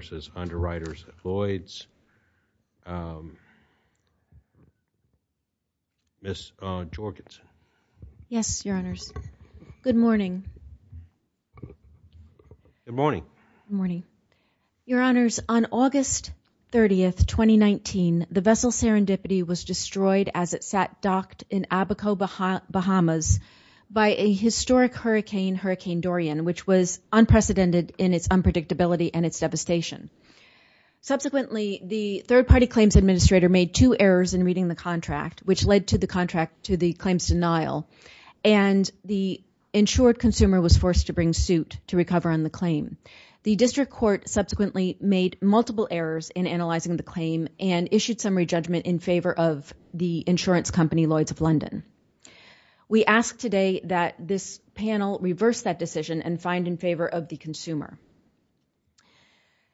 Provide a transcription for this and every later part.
v. Underwriters at Lloyd's. Miss Jorgensen. Yes, Your Honors. Good morning. Good morning. Your Honors, on August 30th, 2019, the vessel Serendipity was destroyed as it sat docked in Abaco, Bahamas by a historic hurricane, Hurricane Dorian, which was unprecedented in its unpredictability and its devastation. Subsequently, the third-party claims administrator made two errors in reading the contract, which led to the contract, to the claims denial, and the insured consumer was forced to bring suit to recover on the claim. The district court subsequently made multiple errors in analyzing the claim and issued summary judgment in favor of the insurance company, Lloyd's of London. We ask today that this panel reverse that decision and find in favor of the consumer.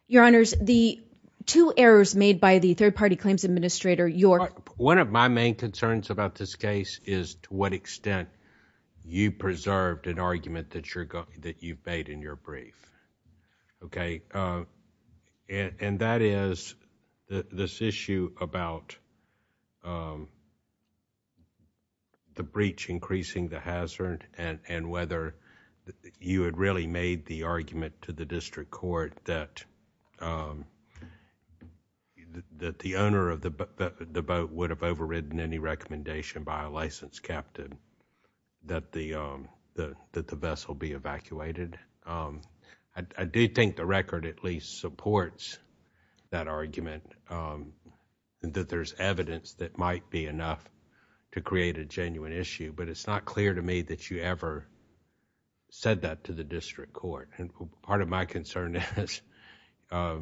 Your Honors, the two errors made by the third-party claims administrator, your... One of my main concerns about this case is to what extent you preserved an argument that you've made in your brief. That is, this issue about the breach increasing the hazard and whether you had really made the argument to the district court that the owner of the boat would have overridden any recommendation by a licensed captain that the vessel be evacuated. I do think the record at least supports that there's evidence that might be enough to create a genuine issue, but it's not clear to me that you ever said that to the district court. Part of my concern is I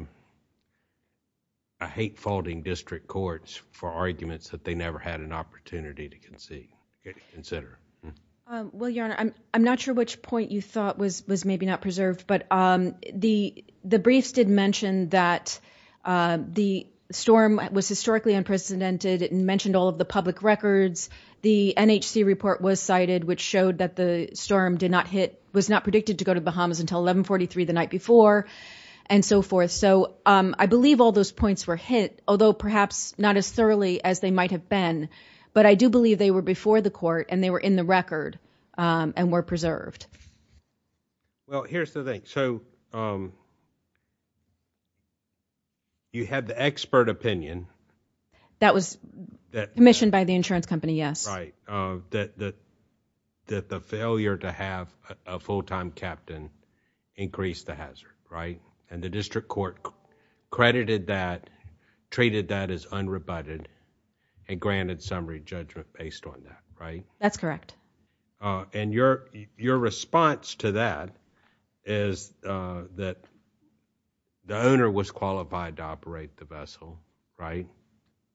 hate faulting district courts for arguments that they never had an opportunity to concede, to consider. Your Honor, I'm not sure which point you thought was maybe not preserved, but the briefs did mention that the storm was historically unprecedented. It mentioned all of the public records. The NHC report was cited, which showed that the storm did not hit, was not predicted to go to the Bahamas until 1143 the night before and so forth. I believe all those points were hit, although perhaps not as thoroughly as they might have been, but I do believe they were before the court and they were in the record and were preserved. Well, here's the thing. So, you had the expert opinion. That was commissioned by the insurance company, yes. Right. That the failure to have a full-time captain increase the hazard, right? And the district court credited that, treated that as unrebutted and granted summary judgment based on that, right? That's correct. And your response to that is that the owner was qualified to operate the vessel, right?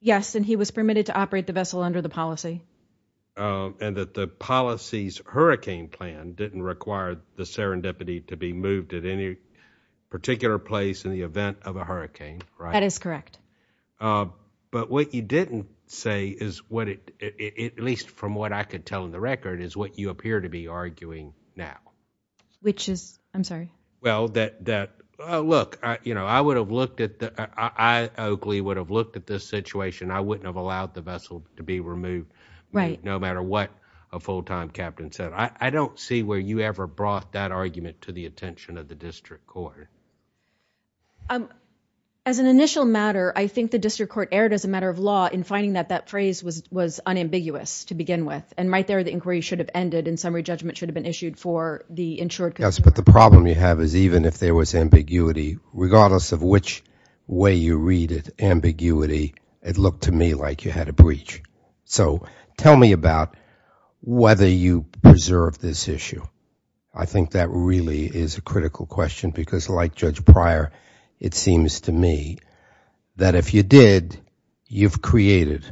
Yes, and he was permitted to operate the vessel under the policy. And that the policy's hurricane plan didn't require the serendipity to be moved at any particular place in the event of a hurricane, right? That is correct. Um, but what you didn't say is what it, at least from what I could tell in the record, is what you appear to be arguing now. Which is, I'm sorry? Well, that, that, uh, look, I, you know, I would have looked at the, I, Oakley would have looked at this situation, I wouldn't have allowed the vessel to be removed. Right. No matter what a full-time captain said. I, I don't see where you ever brought that argument to the attention of the district court. Um, as an initial matter, I think the district court erred as a matter of law in finding that that phrase was, was unambiguous to begin with. And right there, the inquiry should have ended and summary judgment should have been issued for the insured. Yes, but the problem you have is even if there was ambiguity, regardless of which way you read it, ambiguity, it looked to me like you had a breach. So tell me about whether you preserve this issue. I think that really is a critical question because like Judge Pryor, it seems to me that if you did, you've created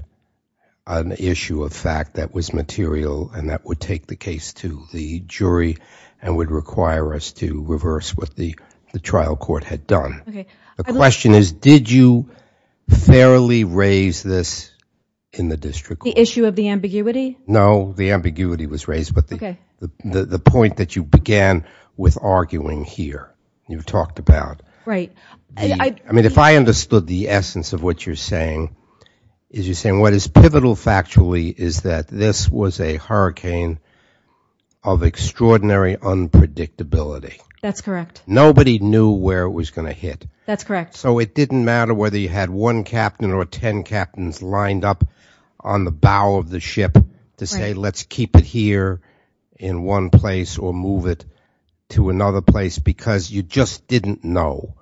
an issue of fact that was material and that would take the case to the jury and would require us to reverse what the, the trial court had done. Okay. The question is, did you fairly raise this in the district court? The issue of the ambiguity? No, the ambiguity was raised. Okay. The point that you began with arguing here, you've talked about. Right. I mean, if I understood the essence of what you're saying is you're saying what is pivotal factually is that this was a hurricane of extraordinary unpredictability. That's correct. Nobody knew where it was going to hit. That's correct. So it didn't matter whether you had one captain or 10 captains lined up on the bow of the in one place or move it to another place, because you just didn't know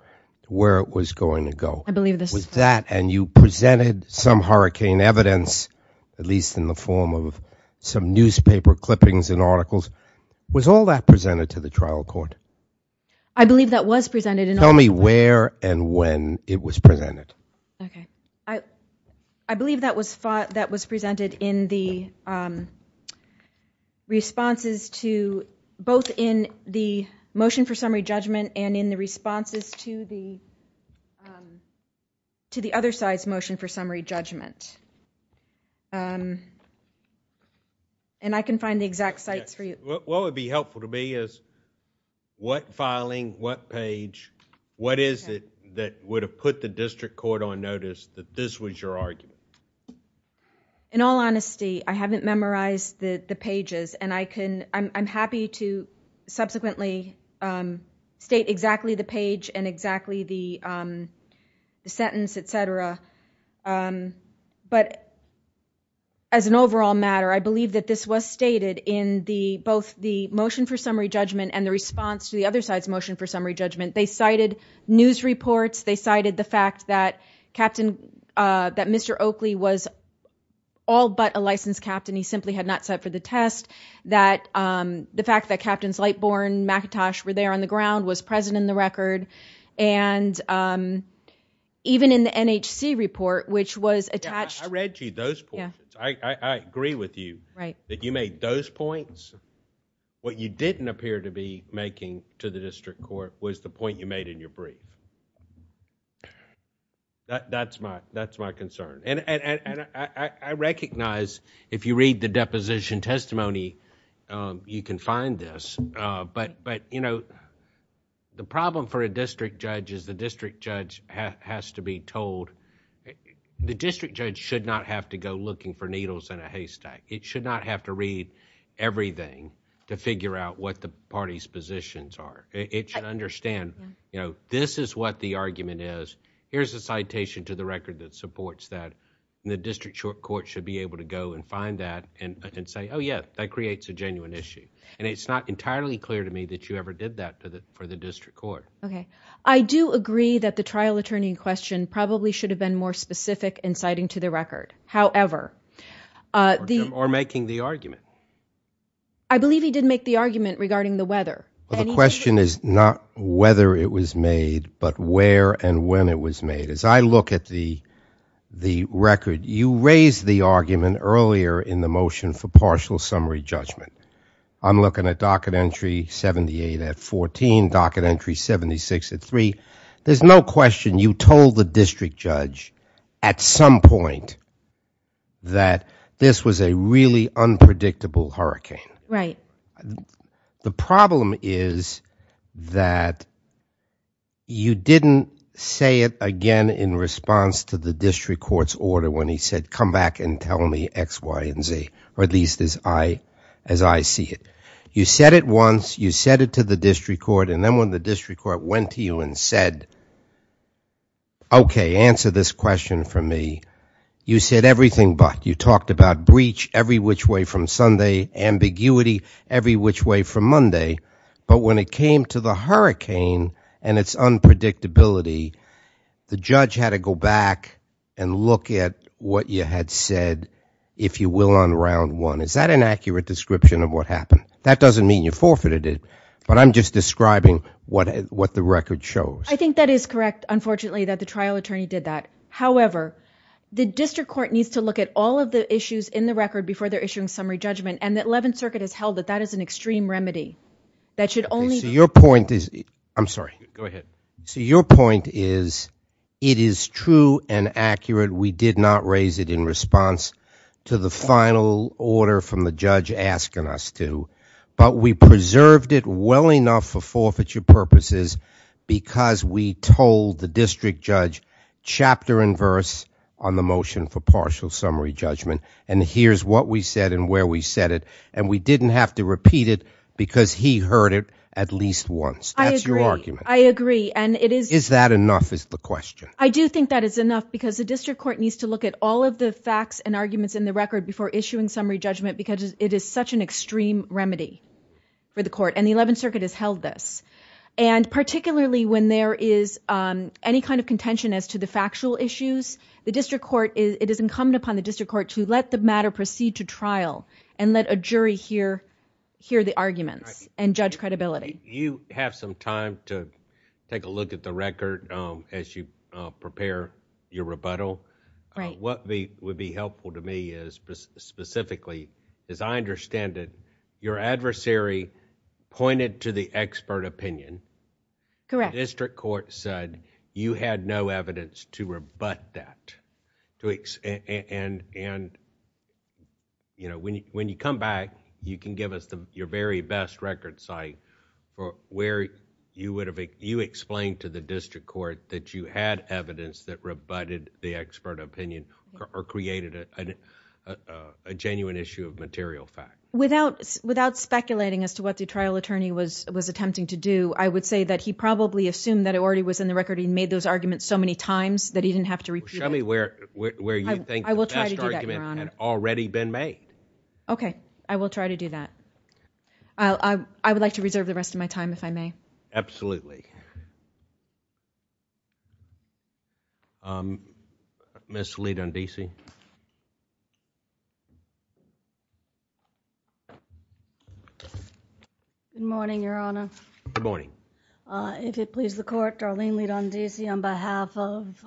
where it was going to go. I believe this was that. And you presented some hurricane evidence, at least in the form of some newspaper clippings and articles was all that presented to the trial court. I believe that was presented. And tell me where and when it was presented. Okay, I, I believe that was that was presented in the responses to both in the motion for summary judgment and in the responses to the to the other side's motion for summary judgment. And I can find the exact sites for you. What would be helpful to me is what filing what page? What is it that would have put the district court on notice that this was your argument? In all honesty, I haven't memorized the pages and I can I'm happy to subsequently state exactly the page and exactly the sentence, etc. But as an overall matter, I believe that this was stated in the both the motion for summary judgment and the response to the other side's motion for summary judgment. They cited news reports. They cited the fact that Captain, that Mr. Oakley was all but a licensed captain. He simply had not set for the test that the fact that Captains Lightbourn, McIntosh were there on the ground was present in the record. And even in the NHC report, which was attached. I read you those points. I agree with you that you made those points. What you didn't appear to be making to the district court was the point you made in your brief. That's my concern. And I recognize if you read the deposition testimony, you can find this. But the problem for a district judge is the district judge has to be told... the district judge should not have to go looking for needles in a haystack. It should not have to read everything to figure out what the party's positions are. It should understand, you know, this is what the argument is. Here's a citation to the record that supports that. And the district court should be able to go and find that and say, oh yeah, that creates a genuine issue. And it's not entirely clear to me that you ever did that for the district court. Okay. I do agree that the trial attorney in question probably should have been more specific in citing to the record. However... Or making the argument. I believe he did make the argument regarding the weather. The question is not whether it was made, but where and when it was made. As I look at the record, you raised the argument earlier in the motion for partial summary judgment. I'm looking at docket entry 78 at 14, docket entry 76 at 3. There's no question you told the district judge at some point that this was a really unpredictable hurricane. Right. The problem is that you didn't say it again in response to the district court's order when he said come back and tell me X, Y, and Z. Or at least as I see it. You said it once. You said it to the district court. Then when the district court went to you and said okay, answer this question for me, you said everything but. You talked about breach every which way from Sunday, ambiguity every which way from Monday. But when it came to the hurricane and its unpredictability, the judge had to go back and look at what you had said, if you will, on round one. Is that an accurate description of what happened? That doesn't mean you forfeited it. But I'm just describing what the record shows. I think that is correct, unfortunately, that the trial attorney did that. However, the district court needs to look at all of the issues in the record before they're issuing summary judgment. And the 11th Circuit has held that that is an extreme remedy that should only. So your point is. I'm sorry. Go ahead. So your point is it is true and accurate. We did not raise it in response to the final order from the judge asking us to. But we preserved it well enough for forfeiture purposes because we told the district judge chapter and verse on the motion for partial summary judgment. And here's what we said and where we said it. And we didn't have to repeat it because he heard it at least once. That's your argument. I agree. And it is. Is that enough is the question? I do think that is enough because the district court needs to look at all of the facts and for the court. And the 11th Circuit has held this. And particularly when there is any kind of contention as to the factual issues, the district court is it is incumbent upon the district court to let the matter proceed to trial and let a jury hear hear the arguments and judge credibility. You have some time to take a look at the record as you prepare your rebuttal. What would be helpful to me is specifically, as I understand it, your adversary pointed to the expert opinion. Correct. District court said you had no evidence to rebut that. And you know, when you come back, you can give us your very best record site for where you would have you explained to the district court that you had evidence that rebutted the expert opinion or created a genuine issue of material fact. Without without speculating as to what the trial attorney was attempting to do, I would say that he probably assumed that it already was in the record. He made those arguments so many times that he didn't have to repeat. Show me where you think the best argument had already been made. OK, I will try to do that. I would like to reserve the rest of my time if I may. Absolutely. Um, Miss lead on D.C. Good morning, Your Honor. Good morning. If it please the court, Darlene, lead on D.C. on behalf of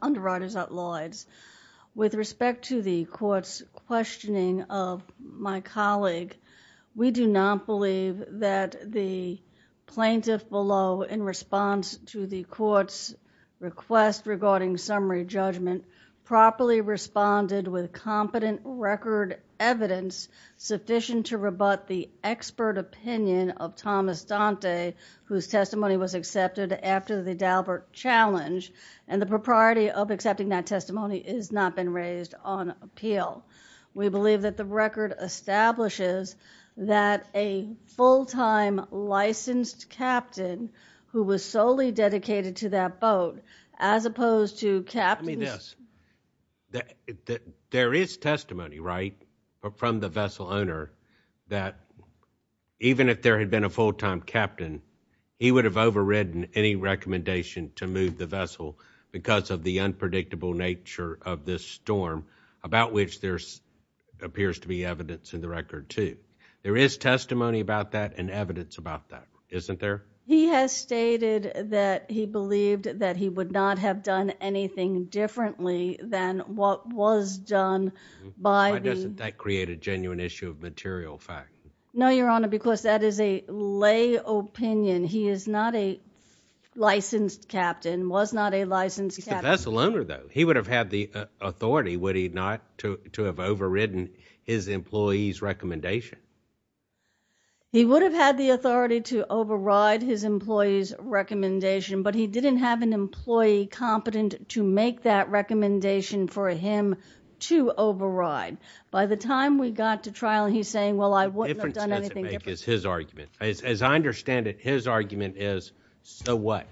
underwriters at Lloyd's. With respect to the court's questioning of my colleague, we do not believe that the plaintiff below in response to the court's request regarding summary judgment properly responded with competent record evidence sufficient to rebut the expert opinion of Thomas Dante, whose testimony was accepted after the Dalbert challenge. And the propriety of accepting that testimony is not been raised on appeal. We believe that the record establishes that a full time licensed captain who was solely dedicated to that boat as opposed to capping this. There is testimony right from the vessel owner that even if there had been a full time captain, he would have overridden any recommendation to move the vessel because of the unpredictable nature of this storm, about which there appears to be evidence in the record, too. There is testimony about that and evidence about that, isn't there? He has stated that he believed that he would not have done anything differently than what was done by that created genuine issue of material fact. No, Your Honor, because that is a lay opinion. He is not a licensed captain, was not a licensed vessel owner, though. He would have had the authority, would he not, to have overridden his employee's recommendation. He would have had the authority to override his employee's recommendation, but he didn't have an employee competent to make that recommendation for him to override. By the time we got to trial, he's saying, well, I wouldn't have done anything. It's his argument. As I understand it, his argument is, so what?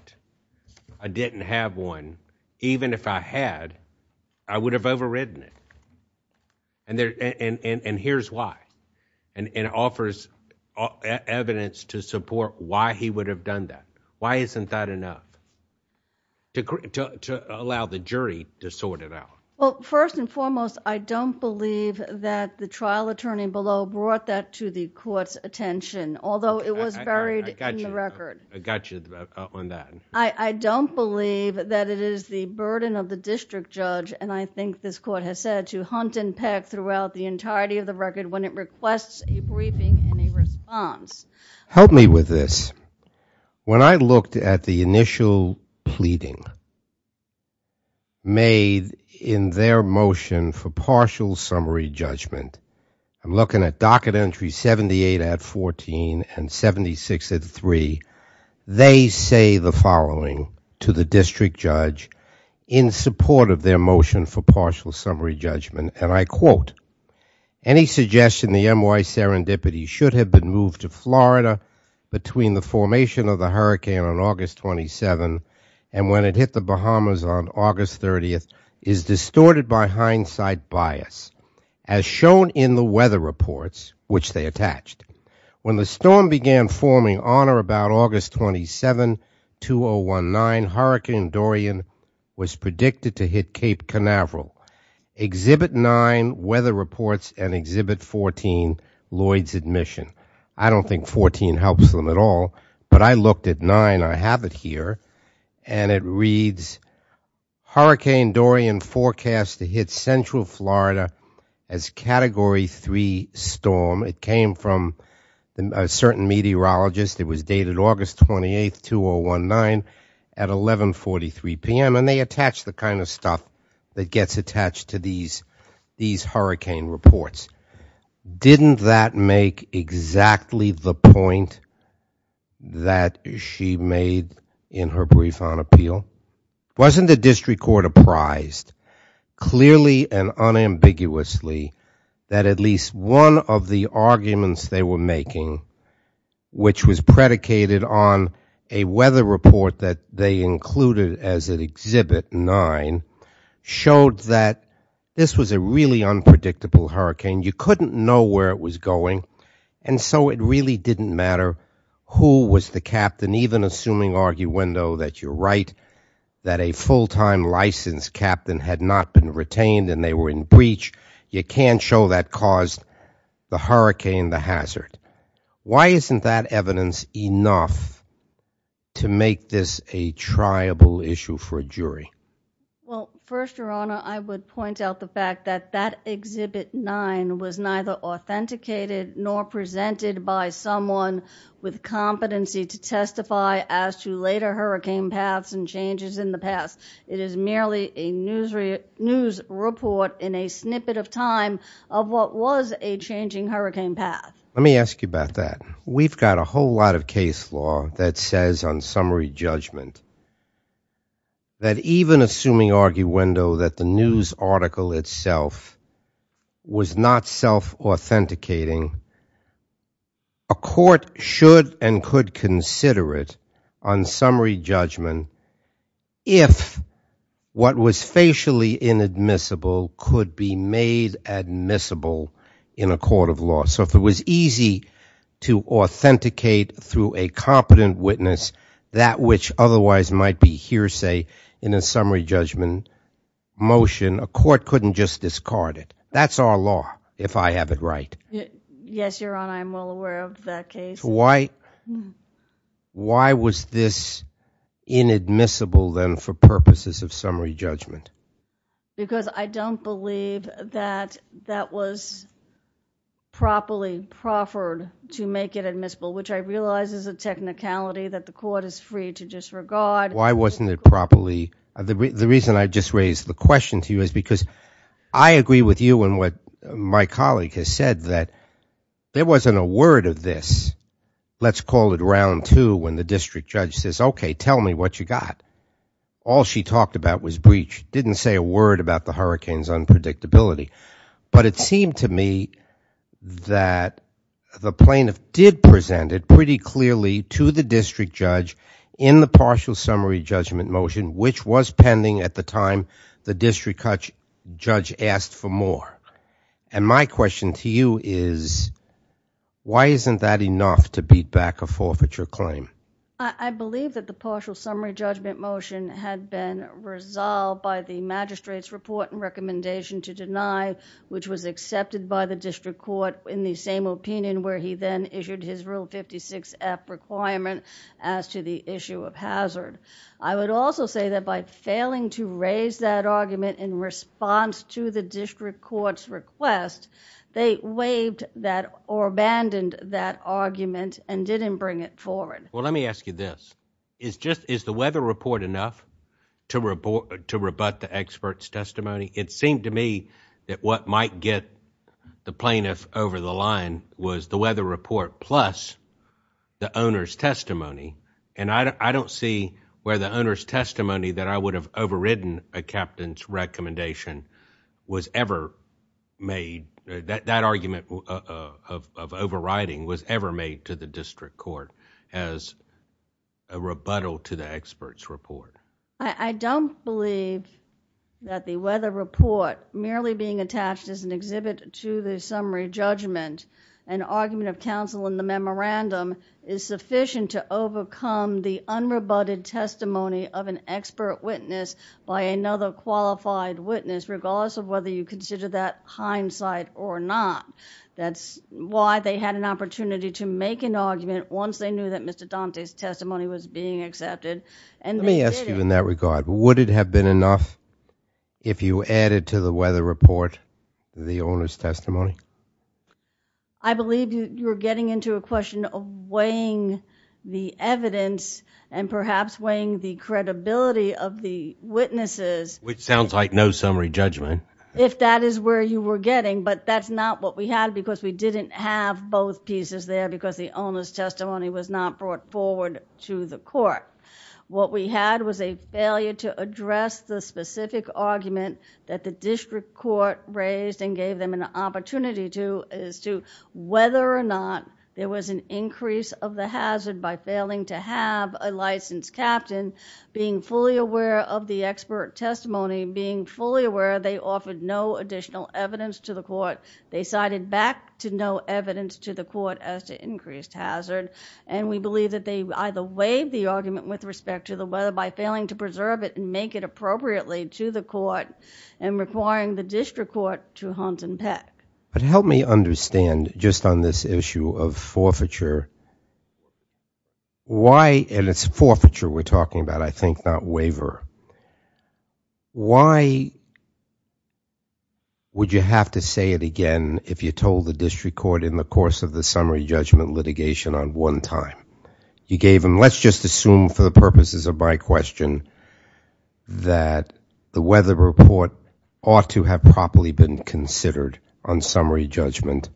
I didn't have one. Even if I had, I would have overridden it. Here's why. It offers evidence to support why he would have done that. Why isn't that enough? To allow the jury to sort it out. Well, first and foremost, I don't believe that the trial attorney below brought that to the court's attention, although it was buried in the record. I got you on that. I don't believe that it is the burden of the district judge, and I think this court has said, to hunt and peck throughout the entirety of the record when it requests a briefing and a response. Help me with this. When I looked at the initial pleading made in their motion for partial summary judgment, I'm looking at docket entry 78 at 14 and 76 at three. They say the following to the district judge in support of their motion for partial summary judgment, and I quote, any suggestion the NY serendipity should have been moved to Florida between the formation of the hurricane on August 27 and when it hit the Bahamas on August 30th is distorted by hindsight bias as shown in the weather reports, which they storm began forming honor about August 27 to a one nine hurricane Dorian was predicted to hit Cape Canaveral exhibit nine weather reports and exhibit 14 Lloyd's admission. I don't think 14 helps them at all, but I looked at nine. I have it here and it reads hurricane Dorian forecast to hit central Florida as category three storm. It came from a certain meteorologist. It was dated August 28th to a one nine at 1143 p.m. And they attach the kind of stuff that gets attached to these these hurricane reports. Didn't that make exactly the point that she made in her brief on appeal? Wasn't the district court apprised clearly and unambiguously that at least one of the arguments they were making, which was predicated on a weather report that they included as an exhibit nine showed that this was a really unpredictable hurricane. You couldn't know where it was going. And so it really didn't matter who was the captain, even assuming arguendo that you're right, that a full time license captain had not been retained and they were in breach. You can't show that caused the hurricane the hazard. Why isn't that evidence enough to make this a triable issue for a jury? Well, first, your honor, I would point out the fact that that exhibit nine was neither authenticated nor presented by someone with competency to testify as to later hurricane paths and changes in the past. It is merely a news news report in a snippet of time of what was a changing hurricane path. Let me ask you about that. We've got a whole lot of case law that says on summary judgment. That even assuming arguendo that the news article itself was not self-authenticating, a court should and could consider it on summary judgment if what was facially inadmissible could be made admissible in a court of law. So if it was easy to authenticate through a competent witness that which otherwise might be hearsay in a summary judgment motion, a court couldn't just discard it. That's our law, if I have it right. Yes, your honor, I'm well aware of that case. Why was this inadmissible then for purposes of summary judgment? Because I don't believe that that was properly proffered to make it admissible, which I realize is a technicality that the court is free to disregard. Why wasn't it properly? The reason I just raised the question to you is because I agree with you and what my colleague has said that there wasn't a word of this. Let's call it round two when the district judge says, okay, tell me what you got. All she talked about was breach. Didn't say a word about the hurricane's unpredictability. But it seemed to me that the plaintiff did present it pretty clearly to the district judge in the partial summary judgment motion, which was pending at the time the district judge asked for more. And my question to you is, why isn't that enough to beat back a forfeiture claim? I believe that the partial summary judgment motion had been resolved by the magistrate's report and recommendation to deny, which was accepted by the district court in the same opinion where he then issued his rule 56 F requirement as to the issue of hazard. I would also say that by failing to raise that argument in response to the district court's request, they waived that or abandoned that argument and didn't bring it forward. Let me ask you this. Is the weather report enough to rebut the expert's testimony? It seemed to me that what might get the plaintiff over the line was the weather report plus the owner's testimony. And I don't see where the owner's testimony that I would have overridden a captain's recommendation was ever made. That argument of overriding was ever made to the district court as a rebuttal to the expert's report. I don't believe that the weather report merely being attached as an exhibit to the summary judgment, an argument of counsel in the memorandum is sufficient to overcome the unrebutted testimony of an expert witness by another qualified witness regardless of whether you consider that or not. That's why they had an opportunity to make an argument once they knew that Mr. Dante's testimony was being accepted. Let me ask you in that regard. Would it have been enough if you added to the weather report the owner's testimony? I believe you're getting into a question of weighing the evidence and perhaps weighing the credibility of the witnesses. Which sounds like no summary judgment. If that is where you were getting but that's not what we had because we didn't have both pieces there because the owner's testimony was not brought forward to the court. What we had was a failure to address the specific argument that the district court raised and gave them an opportunity to as to whether or not there was an increase of the hazard by failing to have a licensed captain being fully aware of the expert testimony being fully aware they offered no additional evidence to the court. They cited back to no evidence to the court as to increased hazard and we believe that they either waived the argument with respect to the weather by failing to preserve it and make it appropriately to the court and requiring the district court to hunt but help me understand just on this issue of forfeiture why and it's forfeiture we're talking about I think not waiver why would you have to say it again if you told the district court in the course of the summary judgment litigation on one time you gave him let's just assume for the purposes of my question that the weather report ought to have properly been considered on summary judgment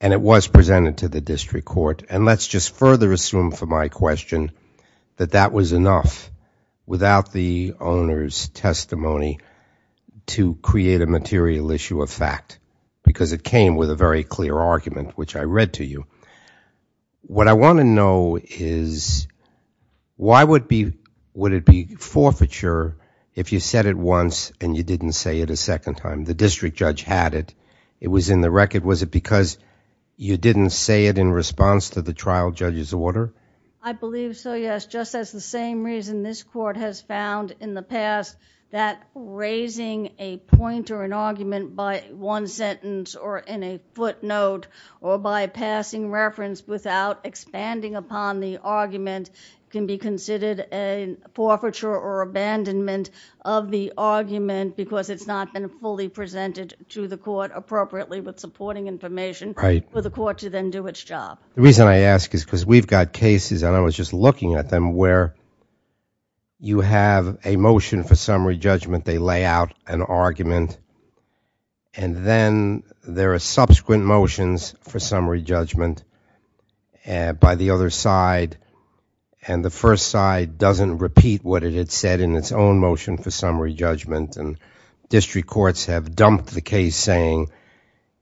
and it was presented to the district court and let's just further assume for my question that that was enough without the owner's testimony to create a material issue of fact because it came with a very clear argument which I read to you what I want to know is why would be would it be forfeiture if you said it once and you didn't say it a second time the district judge had it it was in the record was it because you didn't say it in response to the trial judge's order I believe so yes just as the same reason this court has found in the past that raising a point or an argument by one sentence or in a footnote or by passing reference without expanding upon the argument can be considered a forfeiture or abandonment of the argument because it's not been fully presented to the court appropriately with supporting information right for the court to then do its job the reason I ask is because we've got cases and I was just looking at them where you have a motion for summary judgment they lay out an argument and then there are subsequent motions for summary judgment and by the other side and the first side doesn't repeat what it had said in its own motion for summary judgment and district courts have dumped the case saying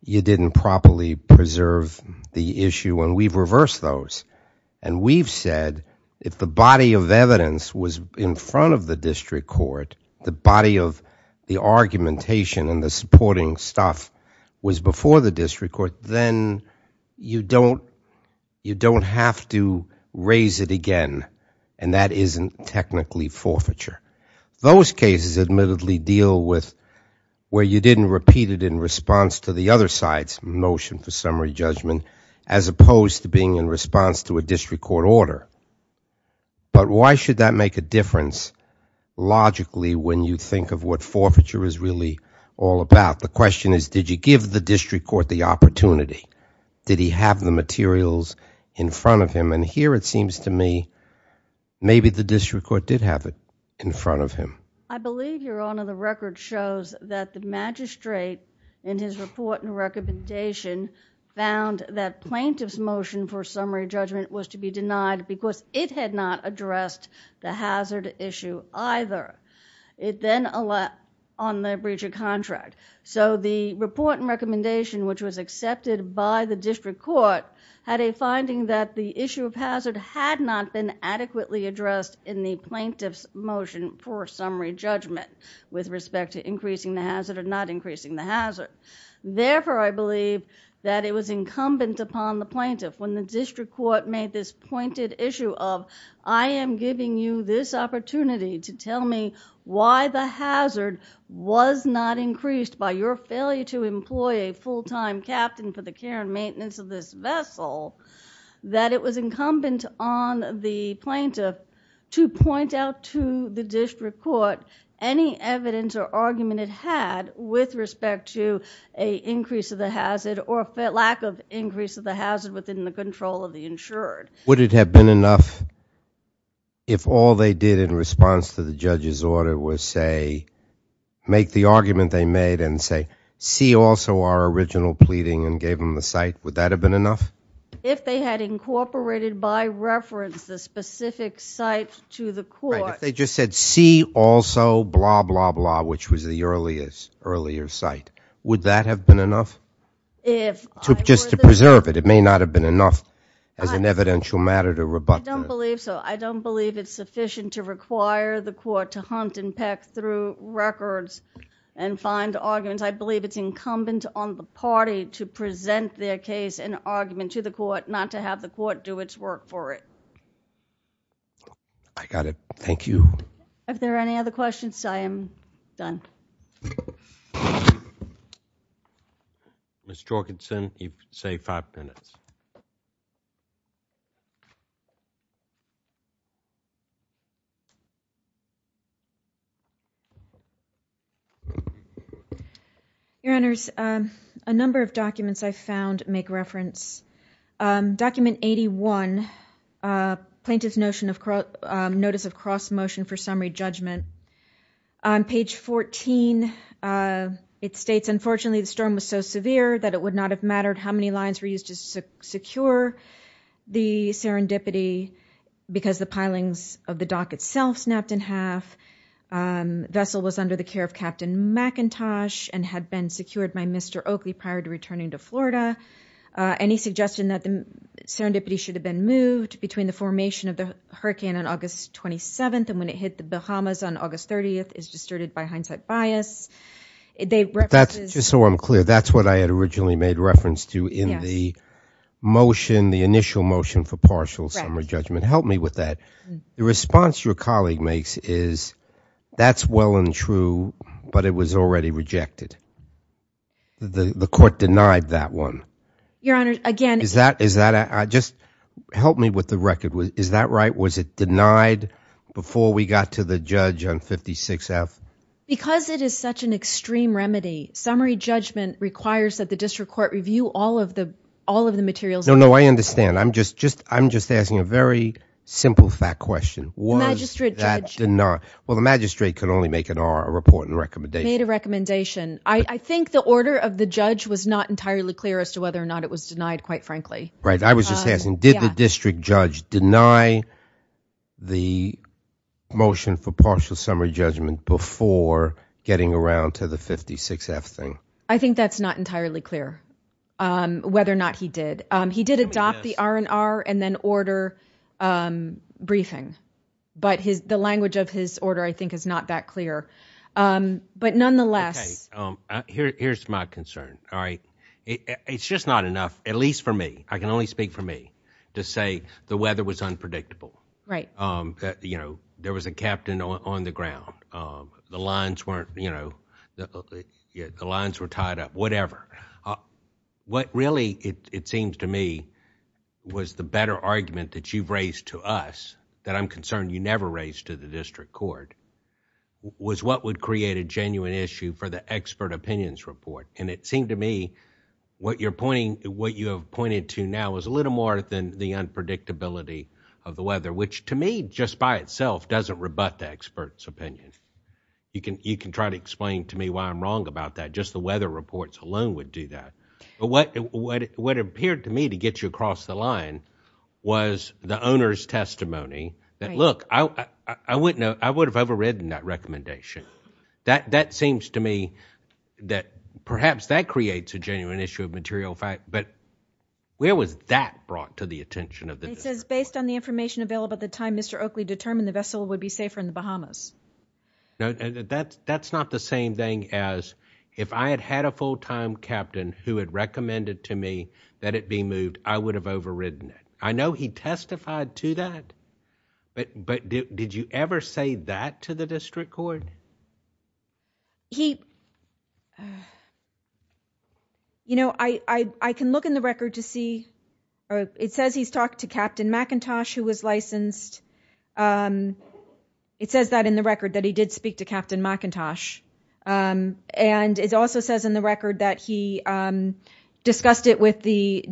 you didn't properly preserve the issue and we've reversed those and we've said if the body of evidence was in front of the district court the body of the argumentation and the supporting stuff was before the district court then you don't you don't have to raise it again and that isn't technically forfeiture those cases admittedly deal with where you didn't repeat it in response to the other side's motion for summary judgment as opposed to being in response to a district court order but why should that make a difference logically when you think of what forfeiture is really all about the question is did you give the district court the opportunity did he have the materials in front of him and here it seems to me maybe the district court did have it in front of him I believe your honor the record shows that the magistrate in his report and recommendation found that plaintiff's motion for summary judgment was to be denied because it had not addressed the hazard issue either it then allowed on the breacher contract so the report and recommendation which was accepted by the district court had a finding that the issue of hazard had not been adequately addressed in the plaintiff's motion for summary judgment with respect to increasing the hazard or not increasing the hazard therefore I believe that it was incumbent upon the plaintiff when the district court made this pointed issue of I am giving you this opportunity to tell me why the hazard was not increased by your failure to employ a full-time captain for the care and maintenance of this vessel that it was incumbent on the plaintiff to point out to the district court any evidence or argument it had with respect to a increase of the hazard or lack of increase of the hazard within the control of the insured would it have been enough if all they did in response to the judge's order was say make the argument they made and say see also our original pleading and gave them the site would that have been enough if they had incorporated by reference the specific site to they just said see also blah blah blah which was the earliest earlier site would that have been enough if just to preserve it it may not have been enough as an evidential matter to rebut I don't believe so I don't believe it's sufficient to require the court to hunt and peck through records and find arguments I believe it's incumbent on the party to present their case an argument to the court not to have the court do its work for it I got it thank you if there are any other questions I am done Miss Jorgensen you say five minutes you your honors a number of documents I found make reference document 81 plaintiff's notion of notice of cross motion for summary judgment on page 14 it states unfortunately the storm was so severe that it would not have mattered how many lines were used to secure the serendipity because the pilings of the dock itself snapped in half vessel was under the care of Captain McIntosh and had been secured by Mr. Oakley prior to returning to Florida and he suggested that the serendipity should have been moved between the formation of the hurricane on August 27th and when it hit the Bahamas on August 30th is distorted by hindsight bias they that's just so I'm clear that's what I had originally made reference to in the motion the initial motion for partial summary judgment help me with that the response your colleague makes is that's well and true but it was already rejected the the court denied that one your honor again is that is that I just help me with the record with is that right was it denied before we got to the judge on 56 f because it is such an extreme remedy summary judgment requires that the district court review all of the all of the materials no no I understand I'm just just I'm just asking a very simple fact question was that did not well the magistrate could only make an R a report and recommendation made a recommendation I I think the order of the judge was not entirely clear as to whether or not it was denied quite frankly right I was just asking did the district judge deny the motion for partial summary judgment before getting around to the 56 f thing I think that's not entirely clear whether or not he did he did adopt the R&R and then order briefing but his the language of his order I think is not that clear but nonetheless here's my concern all right it's just not enough at least for me I can only speak for me to say the weather was unpredictable right you know there was a captain on the ground the lines weren't you know the lines were tied up whatever what really it it seems to me was the better argument that you've raised to us that I'm concerned you never raised to the district court was what would create a genuine issue for the expert opinions report and it seemed to me what you're pointing what you have pointed to now is a little more than the unpredictability of the weather which to me just by itself doesn't rebut the expert's opinion you can you can try to explain to me why I'm wrong about that just the weather reports alone would do that but what what what appeared to me to get you across the line was the owner's testimony that look I I wouldn't know I would have overridden that recommendation that that seems to me that perhaps that creates a genuine issue of material fact but where was that brought to the attention of the it says based on the information available at the time Mr. Oakley determined the vessel would be safer in the Bahamas no that's that's not the same thing as if I had had a full-time captain who had recommended to me that it be moved I would have overridden it I know he testified to that but but did you ever say that to the district court he you know I I can look in the record to see or it says he's talked to Captain McIntosh who was licensed it says that in the record that he did speak to Captain McIntosh and it also says in the record that he discussed it with the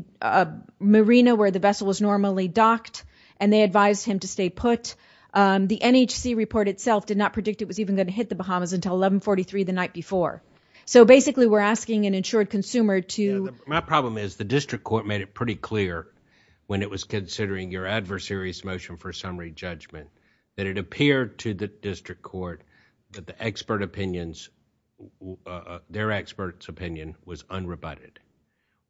marina where the vessel was normally docked and they advised him to stay put the NHC report itself did not predict it was even going to hit the Bahamas until 11 43 the night before so basically we're asking an insured consumer to my problem is the summary judgment that it appeared to the district court that the expert opinions their experts opinion was unrebutted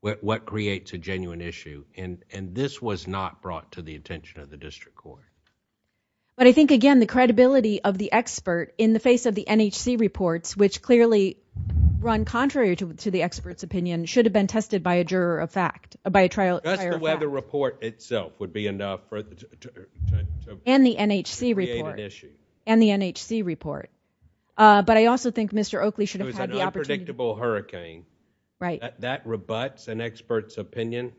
what creates a genuine issue and and this was not brought to the attention of the district court but I think again the credibility of the expert in the face of the NHC reports which clearly run contrary to the experts opinion should have been tested by a and the NHC report issue and the NHC report uh but I also think Mr. Oakley should have had the unpredictable hurricane right that rebuts an expert's opinion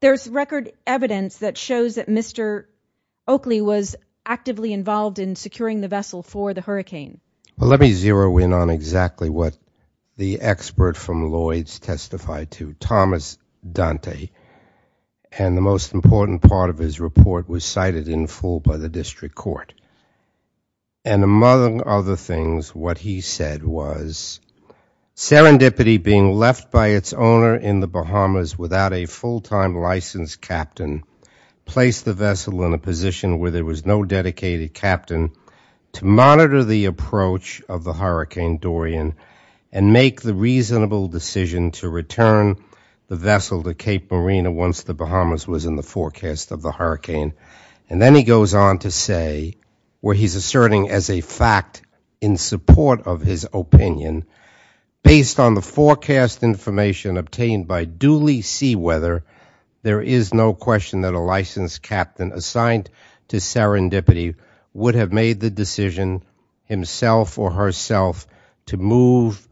there's record evidence that shows that Mr. Oakley was actively involved in securing the vessel for the hurricane well let me zero in on exactly what the expert from Lloyd's testified to Thomas Dante and the important part of his report was cited in full by the district court and among other things what he said was serendipity being left by its owner in the Bahamas without a full-time licensed captain placed the vessel in a position where there was no dedicated captain to monitor the approach of the hurricane Dorian and make the reasonable decision to return the vessel to Cape Marina once the Bahamas was in the forecast of the hurricane and then he goes on to say where he's asserting as a fact in support of his opinion based on the forecast information obtained by duly sea weather there is no question that a licensed captain assigned to serendipity would have made the decision himself or herself to move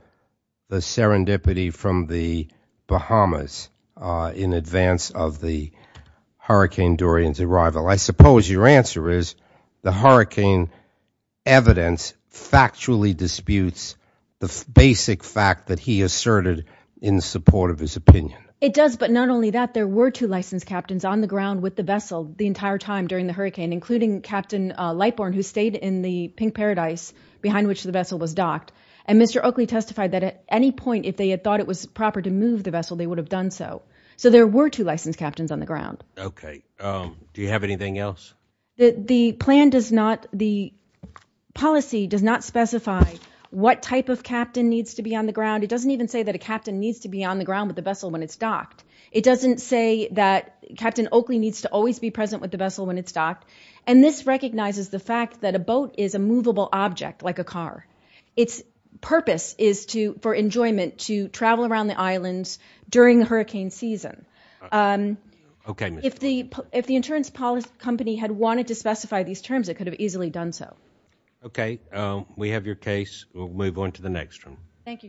the serendipity from the Bahamas uh in advance of the hurricane Dorian's arrival I suppose your answer is the hurricane evidence factually disputes the basic fact that he asserted in support of his opinion it does but not only that there were two licensed captains on the ground with the vessel the entire time during the hurricane including Captain Lightborn who stayed in the pink paradise behind which the vessel was docked and Mr. Oakley testified that at any point if they had thought it was proper to move the vessel they would have done so so there were two licensed captains on the ground okay um do you have anything else the plan does not the policy does not specify what type of captain needs to be on the ground it doesn't even say that a captain needs to be on the ground with the vessel when it's docked it doesn't say that recognizes the fact that a boat is a movable object like a car its purpose is to for enjoyment to travel around the islands during the hurricane season um okay if the if the insurance policy company had wanted to specify these terms it could have easily done so okay um we have your case we'll move on to the next room thank you